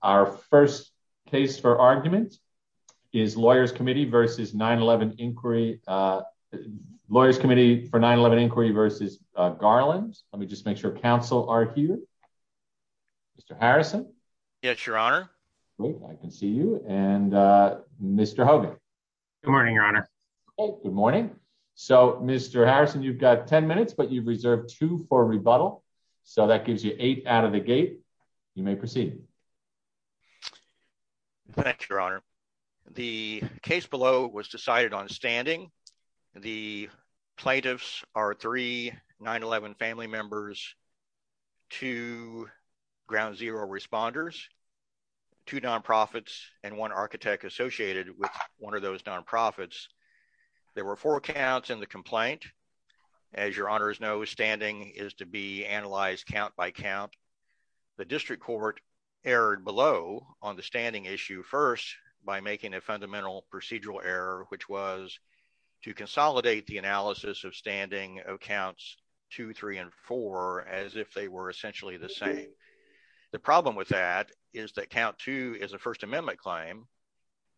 Our first case for argument is Lawyers Committee for 9-11 Inquiry v. Garland. Let me just make sure counsel are here. Mr. Harrison. Yes, your honor. I can see you. And Mr. Hogan. Good morning, your honor. Good morning. So Mr. Harrison, you've got 10 minutes, but you've reserved two for rebuttal. So that gives you eight out of the gate. You may proceed. Thank you, your honor. The case below was decided on standing. The plaintiffs are three 9-11 family members, two ground zero responders, two non-profits, and one architect associated with one of those non-profits. There were four counts in the complaint. As your honors know, standing is to be analyzed count by count. The district court erred below on the standing issue first by making a fundamental procedural error, which was to consolidate the analysis of standing of counts two, three, and four as if they were essentially the same. The problem with that is that count two is a First Amendment claim.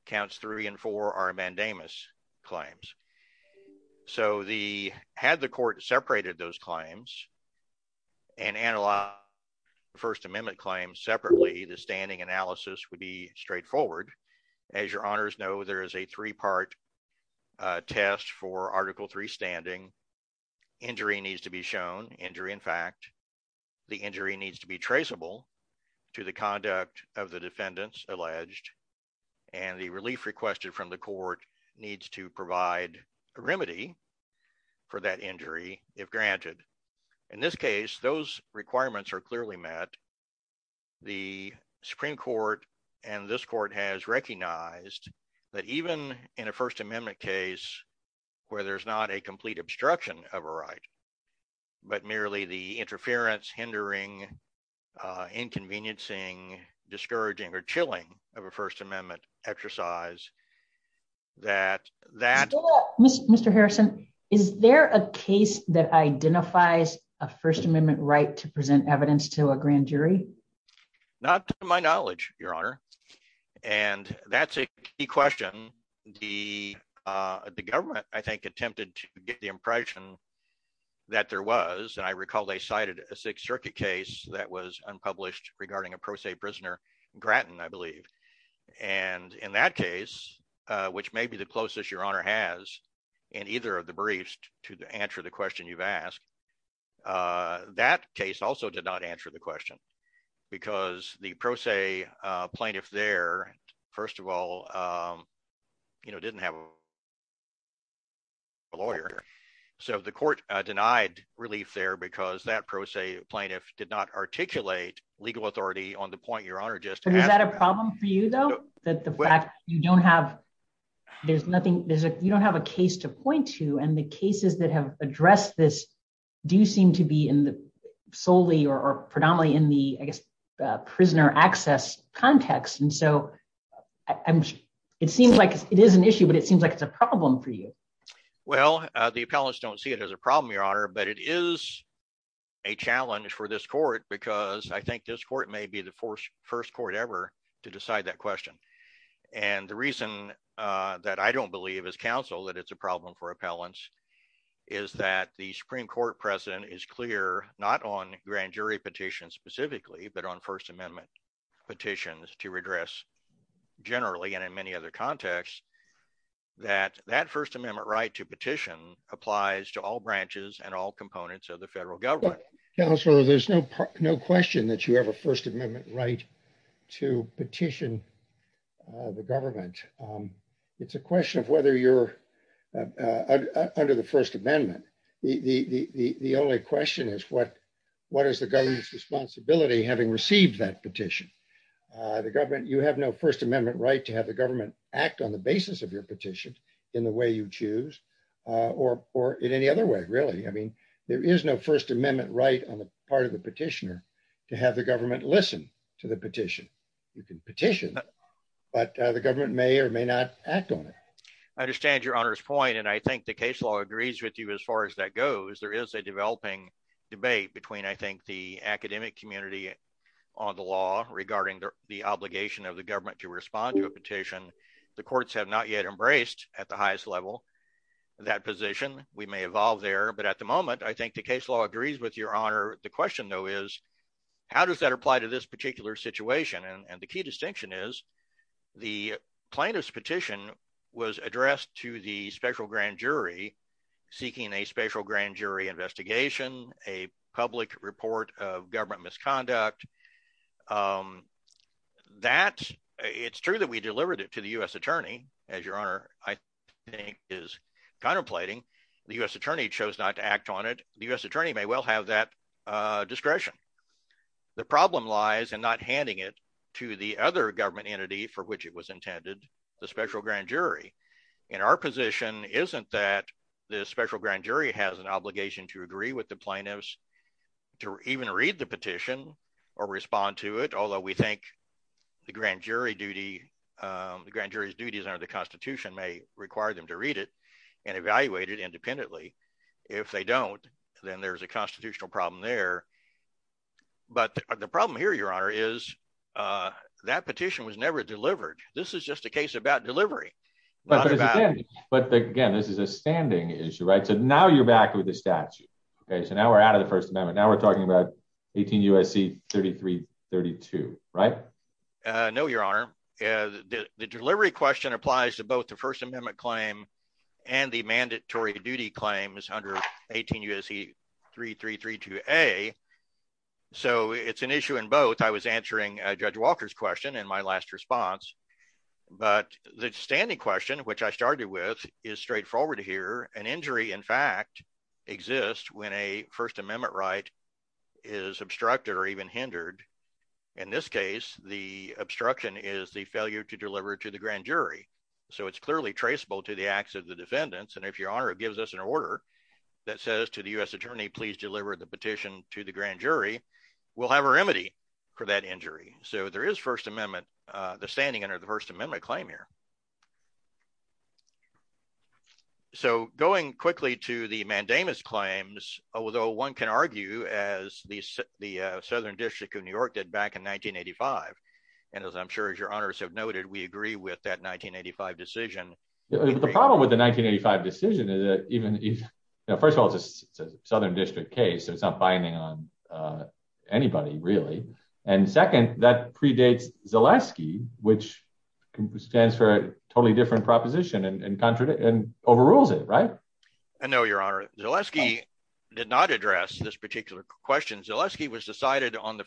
Counts three and four are mandamus claims. So had the court separated those claims and analyzed the First Amendment claims separately, the standing analysis would be straightforward. As your honors know, there is a three-part test for Article III standing. Injury needs to be shown. Injury, in fact, the injury needs to be traceable to the conduct of the defendants alleged, and the relief requested from the court needs to provide a remedy for that injury if granted. In this case, those requirements are clearly met. The Supreme Court and this court has recognized that even in a First Amendment case where there's not a complete obstruction of a right, but merely the interference, hindering, inconveniencing, discouraging, or chilling of a First Amendment exercise, that... Mr. Harrison, is there a case that identifies a First Amendment right to present evidence to a grand jury? Not to my knowledge, your honor. And that's a key question. The government, I think, attempted to get the impression that there was, and I recall they cited a Sixth Circuit case that was unpublished regarding a pro se prisoner, Grattan, I believe. And in that case, which may be the closest your honor has in either of the briefs to answer the question you've asked, that case also did not answer the question because the pro se plaintiff there, first of all, didn't have a lawyer. So the court denied relief there because that pro se plaintiff did not articulate legal authority on the point your honor just... Is that a problem for you though? That the fact you don't have a case to point to and the cases that have addressed this do seem to be solely or predominantly in the, I guess, prisoner access context. And so I'm sure it seems like it is an issue, but it seems like it's a problem for you. Well, the appellants don't see it as a problem, your honor, but it is a challenge for this court because I think this court may be the first court ever to decide that question. And the reason that I don't believe as counsel that it's a problem for appellants is that the Supreme Court precedent is clear, not on grand jury petitions specifically, but on first amendment petitions to redress generally and in many other contexts, that that first amendment right to petition applies to all branches and all components of the federal government. Counselor, there's no question that you have a first amendment right to petition the government. It's a question of whether you're under the first amendment. The only question is what is the government's responsibility having received that petition? You have no first amendment right to have the government act on the basis of your petition in the way you choose or in any other way, really. I mean, there is no first amendment right on the part of the petitioner to have the government listen to the petition. You can petition, but the government may or may not act on it. I understand your honor's point. And I think the case law agrees with you as far as that goes. There is a developing debate between, I think, the academic community on the law regarding the obligation of the government to respond to a petition. The courts have not yet embraced at the highest level that position. We may evolve there. But at the moment, I think the case law agrees with your honor. The question, though, is how does that apply to this particular situation? And the key distinction is the plaintiff's petition was addressed to the special grand jury seeking a special grand jury investigation, a public report of government misconduct. That, it's true that we delivered it to the U.S. attorney, as your honor, I think, is contemplating. The U.S. attorney chose not to act on it. The U.S. attorney may well have that discretion. The problem lies in not handing it to the other government entity for which it was intended, the special grand jury. And our position isn't that the special grand jury has an obligation to agree with the plaintiffs to even read the petition or respond to it, although we think the grand jury's duties under the Constitution may require them to read it and evaluate it But the problem here, your honor, is that petition was never delivered. This is just a case about delivery. But again, this is a standing issue, right? So now you're back with the statute. So now we're out of the First Amendment. Now we're talking about 18 U.S.C. 3332, right? No, your honor. The delivery question applies to both the First Amendment claim and the mandatory duty claims under 18 U.S.C. 3332A. So it's an issue in both. I was answering Judge Walker's question in my last response. But the standing question, which I started with, is straightforward here. An injury, in fact, exists when a First Amendment right is obstructed or even hindered. In this case, the obstruction is the failure to deliver to the grand jury. So it's clearly traceable to the acts of the defendants. And if your honor gives us an order that says to the U.S. attorney, please deliver the petition to the grand jury, we'll have a remedy for that injury. So there is First Amendment, the standing under the First Amendment claim here. So going quickly to the mandamus claims, although one can argue, as the Southern District of New and as I'm sure as your honors have noted, we agree with that 1985 decision. The problem with the 1985 decision is that even if first of all, it's a Southern District case, so it's not binding on anybody, really. And second, that predates Zaleski, which stands for a totally different proposition and contradict and overrules it, right? I know your honor, Zaleski did not address this particular question. Zaleski was decided on the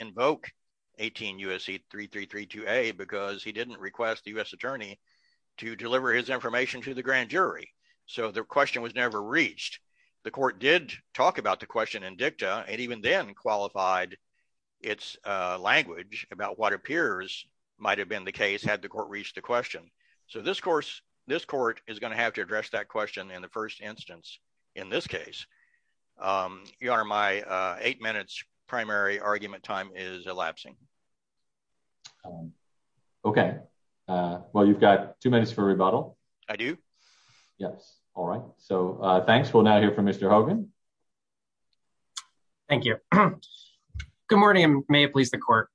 invoke 18 U.S.C. 3332A because he didn't request the U.S. attorney to deliver his information to the grand jury. So the question was never reached. The court did talk about the question in dicta, and even then qualified its language about what appears might have been the case had the court reached the question. So this court is going to have to address that question in the first instance in this case. Your honor, my eight minutes primary argument time is elapsing. Okay. Well, you've got two minutes for rebuttal. I do. Yes. All right. So thanks. We'll now hear from Mr. Hogan. Thank you. Good morning. May it please the court.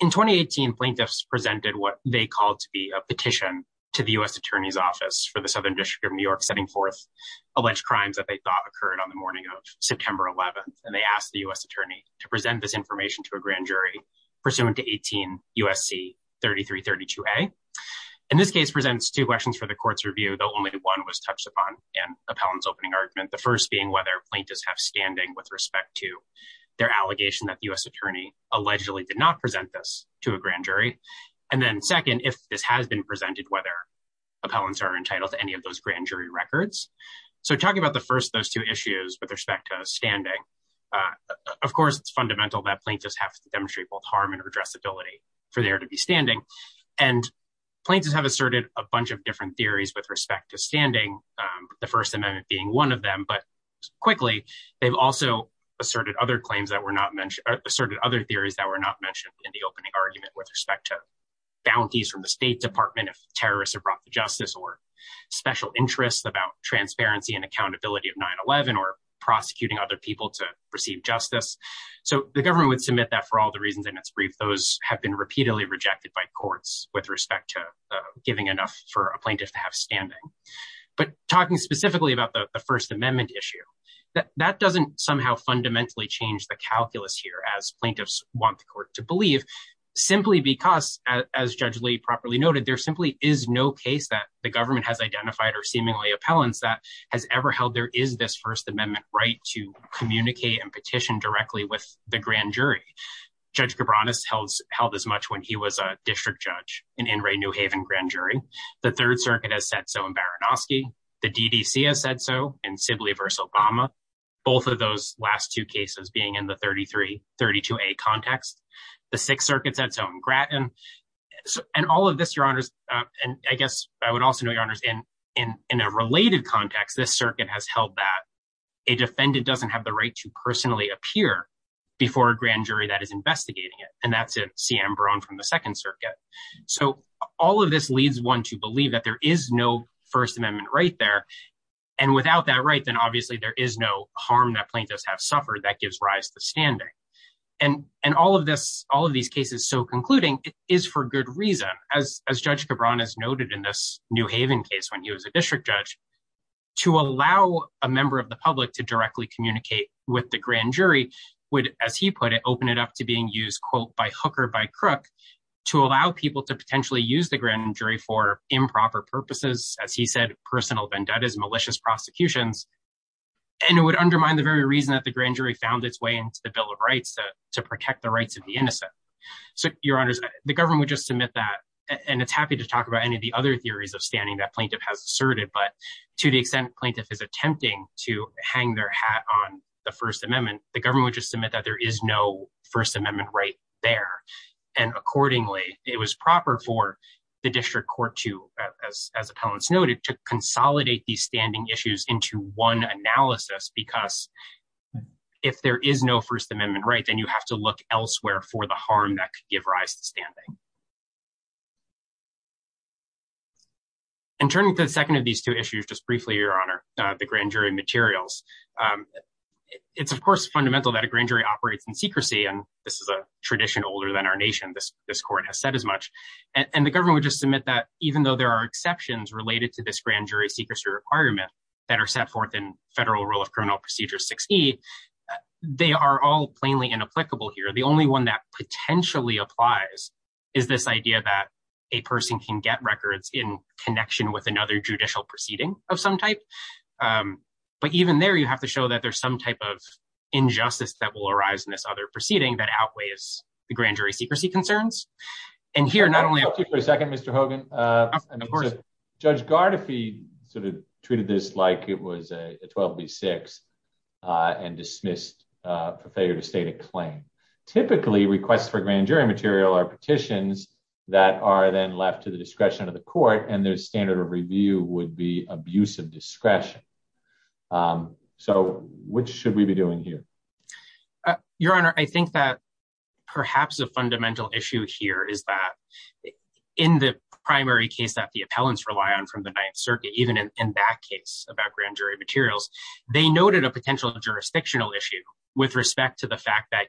In 2018, plaintiffs presented what they called to be a petition to the U.S. attorney's office for the Southern District of that they thought occurred on the morning of September 11th. And they asked the U.S. attorney to present this information to a grand jury pursuant to 18 U.S.C. 3332A. And this case presents two questions for the court's review, though only one was touched upon in appellant's opening argument. The first being whether plaintiffs have standing with respect to their allegation that the U.S. attorney allegedly did not present this to a grand jury. And then second, if this has been those two issues with respect to standing, of course, it's fundamental that plaintiffs have to demonstrate both harm and addressability for there to be standing. And plaintiffs have asserted a bunch of different theories with respect to standing, the First Amendment being one of them. But quickly, they've also asserted other claims that were not mentioned, asserted other theories that were not mentioned in the opening argument with respect to bounties from the State Department if terrorists have brought the justice or special interests about transparency and accountability of 9-11 or prosecuting other people to receive justice. So the government would submit that for all the reasons in its brief. Those have been repeatedly rejected by courts with respect to giving enough for a plaintiff to have standing. But talking specifically about the First Amendment issue, that doesn't somehow fundamentally change the calculus here as plaintiffs want the court to believe simply because, as Judge Lee properly noted, there simply is no case that the government has identified or seemingly appellants that has ever held there is this First Amendment right to communicate and petition directly with the grand jury. Judge Cabranes held as much when he was a district judge in In re New Haven grand jury. The Third Circuit has said so in Baranowski. The DDC has said so in Sibley v. Obama, both of those last two cases being in the 33-32a context. The Sixth Circuit said so in Grattan. And all of this, Your Honors, and I guess I would also know, Your Honors, in a related context, this circuit has held that a defendant doesn't have the right to personally appear before a grand jury that is investigating it. And that's a C.M. Barone from the Second Circuit. So all of this leads one to believe that there is no First Amendment right there. And without that right, then obviously there is no harm that plaintiffs have suffered that gives rise to standing. And all of this, all of these cases so concluding is for good reason. As Judge Cabranes noted in this New Haven case when he was a district judge, to allow a member of the public to directly communicate with the grand jury would, as he put it, open it up to being used, quote, by hook or by crook, to allow people to potentially use the grand jury for improper purposes, as he said, personal vendettas, malicious prosecutions. And it would undermine the very way into the Bill of Rights to protect the rights of the innocent. So, Your Honors, the government would just submit that, and it's happy to talk about any of the other theories of standing that plaintiff has asserted, but to the extent plaintiff is attempting to hang their hat on the First Amendment, the government would just submit that there is no First Amendment right there. And accordingly, it was proper for the district court to, as appellants noted, to consolidate these standing issues into one analysis, because if there is no First Amendment right, then you have to look elsewhere for the harm that could give rise to standing. And turning to the second of these two issues, just briefly, Your Honor, the grand jury materials. It's, of course, fundamental that a grand jury operates in secrecy, and this is a tradition older than our nation, this court has said as much, and the government would just submit that even though there are exceptions related to this grand jury secrecy requirement that are set forth in Federal Rule of Criminal Procedure 6E, they are all plainly inapplicable here. The only one that potentially applies is this idea that a person can get records in connection with another judicial proceeding of some type. But even there, you have to show that there's some type of injustice that will arise in this other proceeding that outweighs the grand jury secrecy concerns. And here, not only- Can I interrupt you for a second, Mr. Hogan? Of course. Judge Gardefee sort of treated this like it was a 12B6 and dismissed for failure to state a claim. Typically, requests for grand jury material are petitions that are then left to the discretion of the court, and their standard of review would be abuse of discretion. So, what should we be doing here? Your Honor, I think that perhaps a fundamental issue here is that in the primary case that the appellants rely on from the Ninth Circuit, even in that case about grand jury materials, they noted a potential jurisdictional issue with respect to the fact that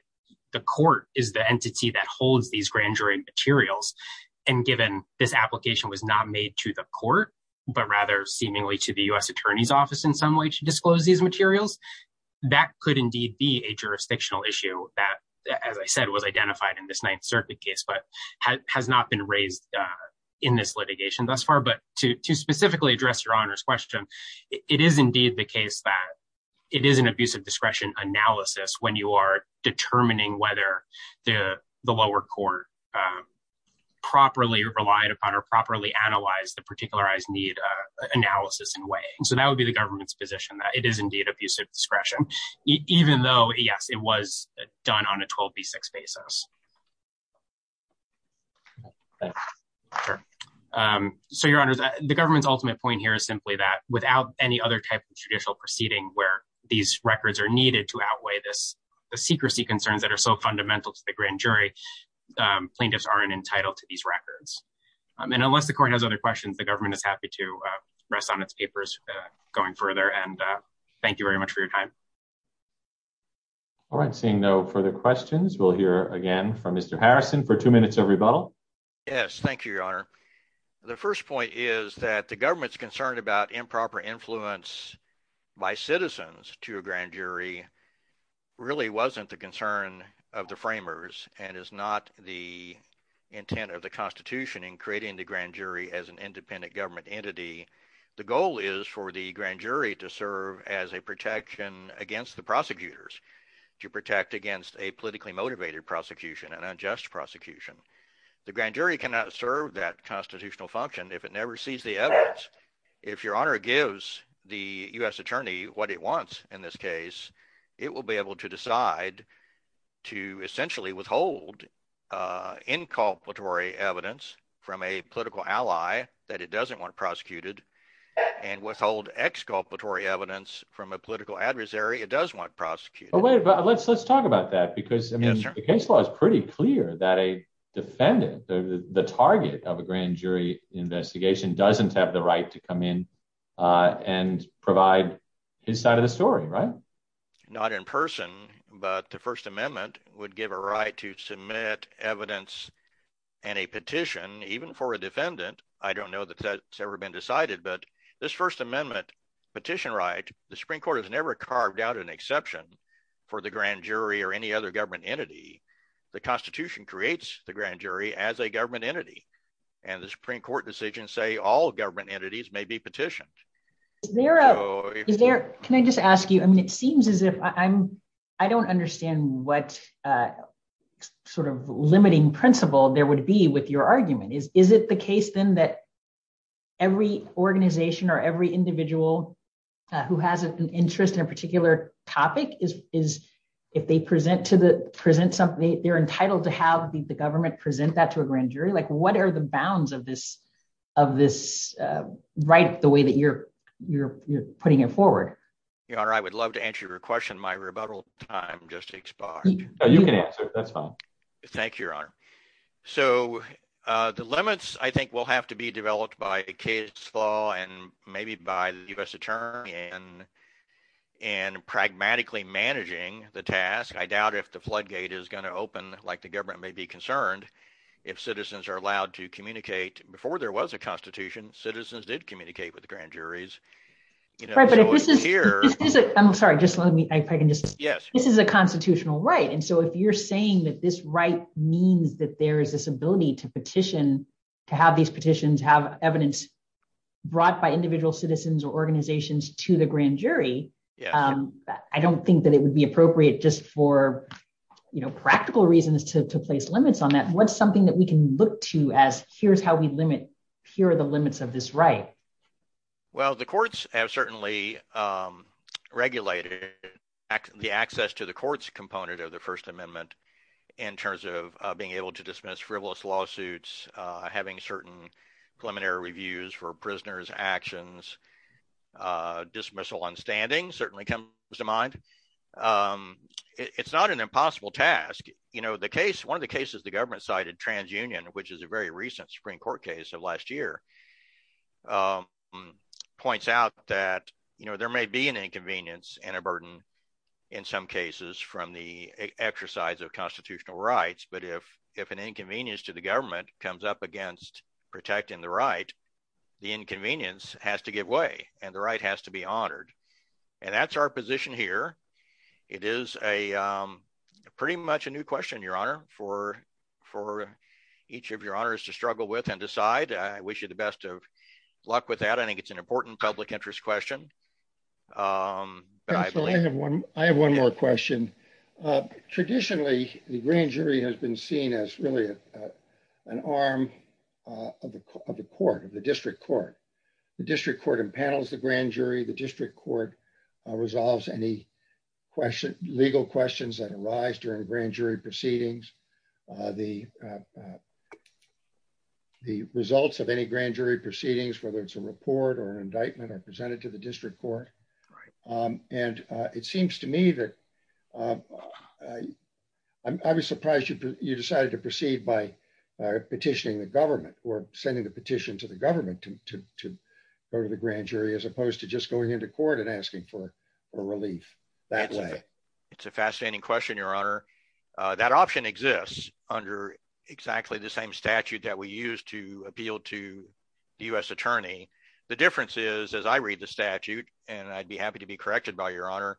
the court is the entity that holds these grand jury materials. And given this application was not made to the court, but rather seemingly to the U.S. Attorney's Office in some way to disclose these materials, that could indeed be a jurisdictional issue that, as I said, was identified in this Ninth Circuit case but has not been raised in this litigation thus far. But to specifically address Your Honor's question, it is indeed the case that it is an abuse of discretion analysis when you are determining whether the lower court properly relied upon or properly analyzed the particularized analysis in way. So, that would be the government's position that it is indeed abuse of discretion, even though, yes, it was done on a 12B6 basis. So, Your Honor, the government's ultimate point here is simply that without any other type of judicial proceeding where these records are needed to outweigh the secrecy concerns that are so fundamental to the grand jury, plaintiffs aren't entitled to these records. And unless the rest on its papers going further, and thank you very much for your time. All right, seeing no further questions, we'll hear again from Mr. Harrison for two minutes of rebuttal. Yes, thank you, Your Honor. The first point is that the government's concerned about improper influence by citizens to a grand jury really wasn't the concern of the framers and is not the intent of the Constitution in creating the grand jury as an independent government entity. The goal is for the grand jury to serve as a protection against the prosecutors, to protect against a politically motivated prosecution, an unjust prosecution. The grand jury cannot serve that constitutional function if it never sees the evidence. If Your Honor gives the U.S. attorney what it wants in this case, it will be able to that it doesn't want prosecuted and withhold exculpatory evidence from a political adversary it does want prosecuted. Let's talk about that because the case law is pretty clear that a defendant, the target of a grand jury investigation doesn't have the right to come in and provide his side of the story, right? Not in person, but the First Amendment would give a right to submit evidence and a petition even for a defendant. I don't know that that's ever been decided, but this First Amendment petition right, the Supreme Court has never carved out an exception for the grand jury or any other government entity. The Constitution creates the grand jury as a government entity and the Supreme Court decisions say all government entities may be petitioned. Is there, can I just ask you, I mean it seems as if I don't understand what sort of limiting principle there would be with your argument. Is it the case then that every organization or every individual who has an interest in a particular topic is if they present something, they're entitled to have the government present that to a grand jury? What are the bounds of this right, the way that you're putting it forward? Your Honor, I would love to answer your question. My rebuttal time just expired. You can answer, that's fine. Thank you, Your Honor. So the limits I think will have to be developed by a case law and maybe by the U.S. Attorney and pragmatically managing the task. I doubt if the floodgate is going to open like the government may be concerned if citizens are allowed to communicate. Before there was a Constitution, citizens did communicate with the grand juries. I'm sorry, just let me, if I can just, this is a constitutional right and so if you're saying that this right means that there is this ability to petition, to have these petitions have evidence brought by individual citizens or organizations to the grand jury, I don't think that it would appropriate just for practical reasons to place limits on that. What's something that we can look to as here's how we limit, here are the limits of this right? Well, the courts have certainly regulated the access to the court's component of the First Amendment in terms of being able to dismiss frivolous lawsuits, having certain preliminary reviews for prisoners' actions, dismissal on standing certainly comes to mind. It's not an impossible task. One of the cases the government cited, TransUnion, which is a very recent Supreme Court case of last year, points out that there may be an inconvenience and a burden in some cases from the exercise of constitutional rights, but if an inconvenience to the government comes up against protecting the right, the inconvenience has to give way and the right has to be honored. And that's our position here. It is a pretty much a new question, your honor, for each of your honors to struggle with and decide. I wish you the best of luck with that. I think it's an important public interest question. I have one more question. Traditionally, the grand jury has been seen as really an arm of the court, of the district court. The district court impanels the grand jury, the district court resolves any legal questions that arise during grand jury proceedings, the results of any grand jury proceedings, whether it's a report or an indictment are presented to the district court. And it seems to me that I was surprised you decided to proceed by petitioning the government or sending the petition to the government to go to the grand jury as opposed to just going into court and asking for a relief that way. It's a fascinating question, your honor. That option exists under exactly the same statute that we use to appeal to the U.S. attorney. The difference is, as I read the statute, and I'd be happy to be corrected by your honor,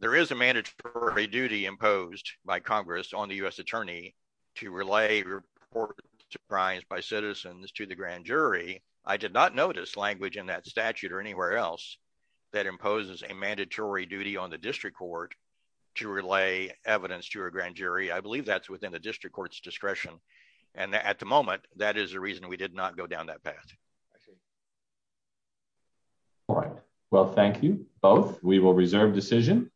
there is a mandatory duty imposed by Congress on the U.S. attorney to relay reports to crimes by citizens to the grand jury. I did not notice language in that statute or anywhere else that imposes a mandatory duty on the district court to relay evidence to a grand jury. I believe that's within the district court's discretion. And at the moment, that is the reason we did not go down that path. All right. Well, thank you both. We will reserve decision.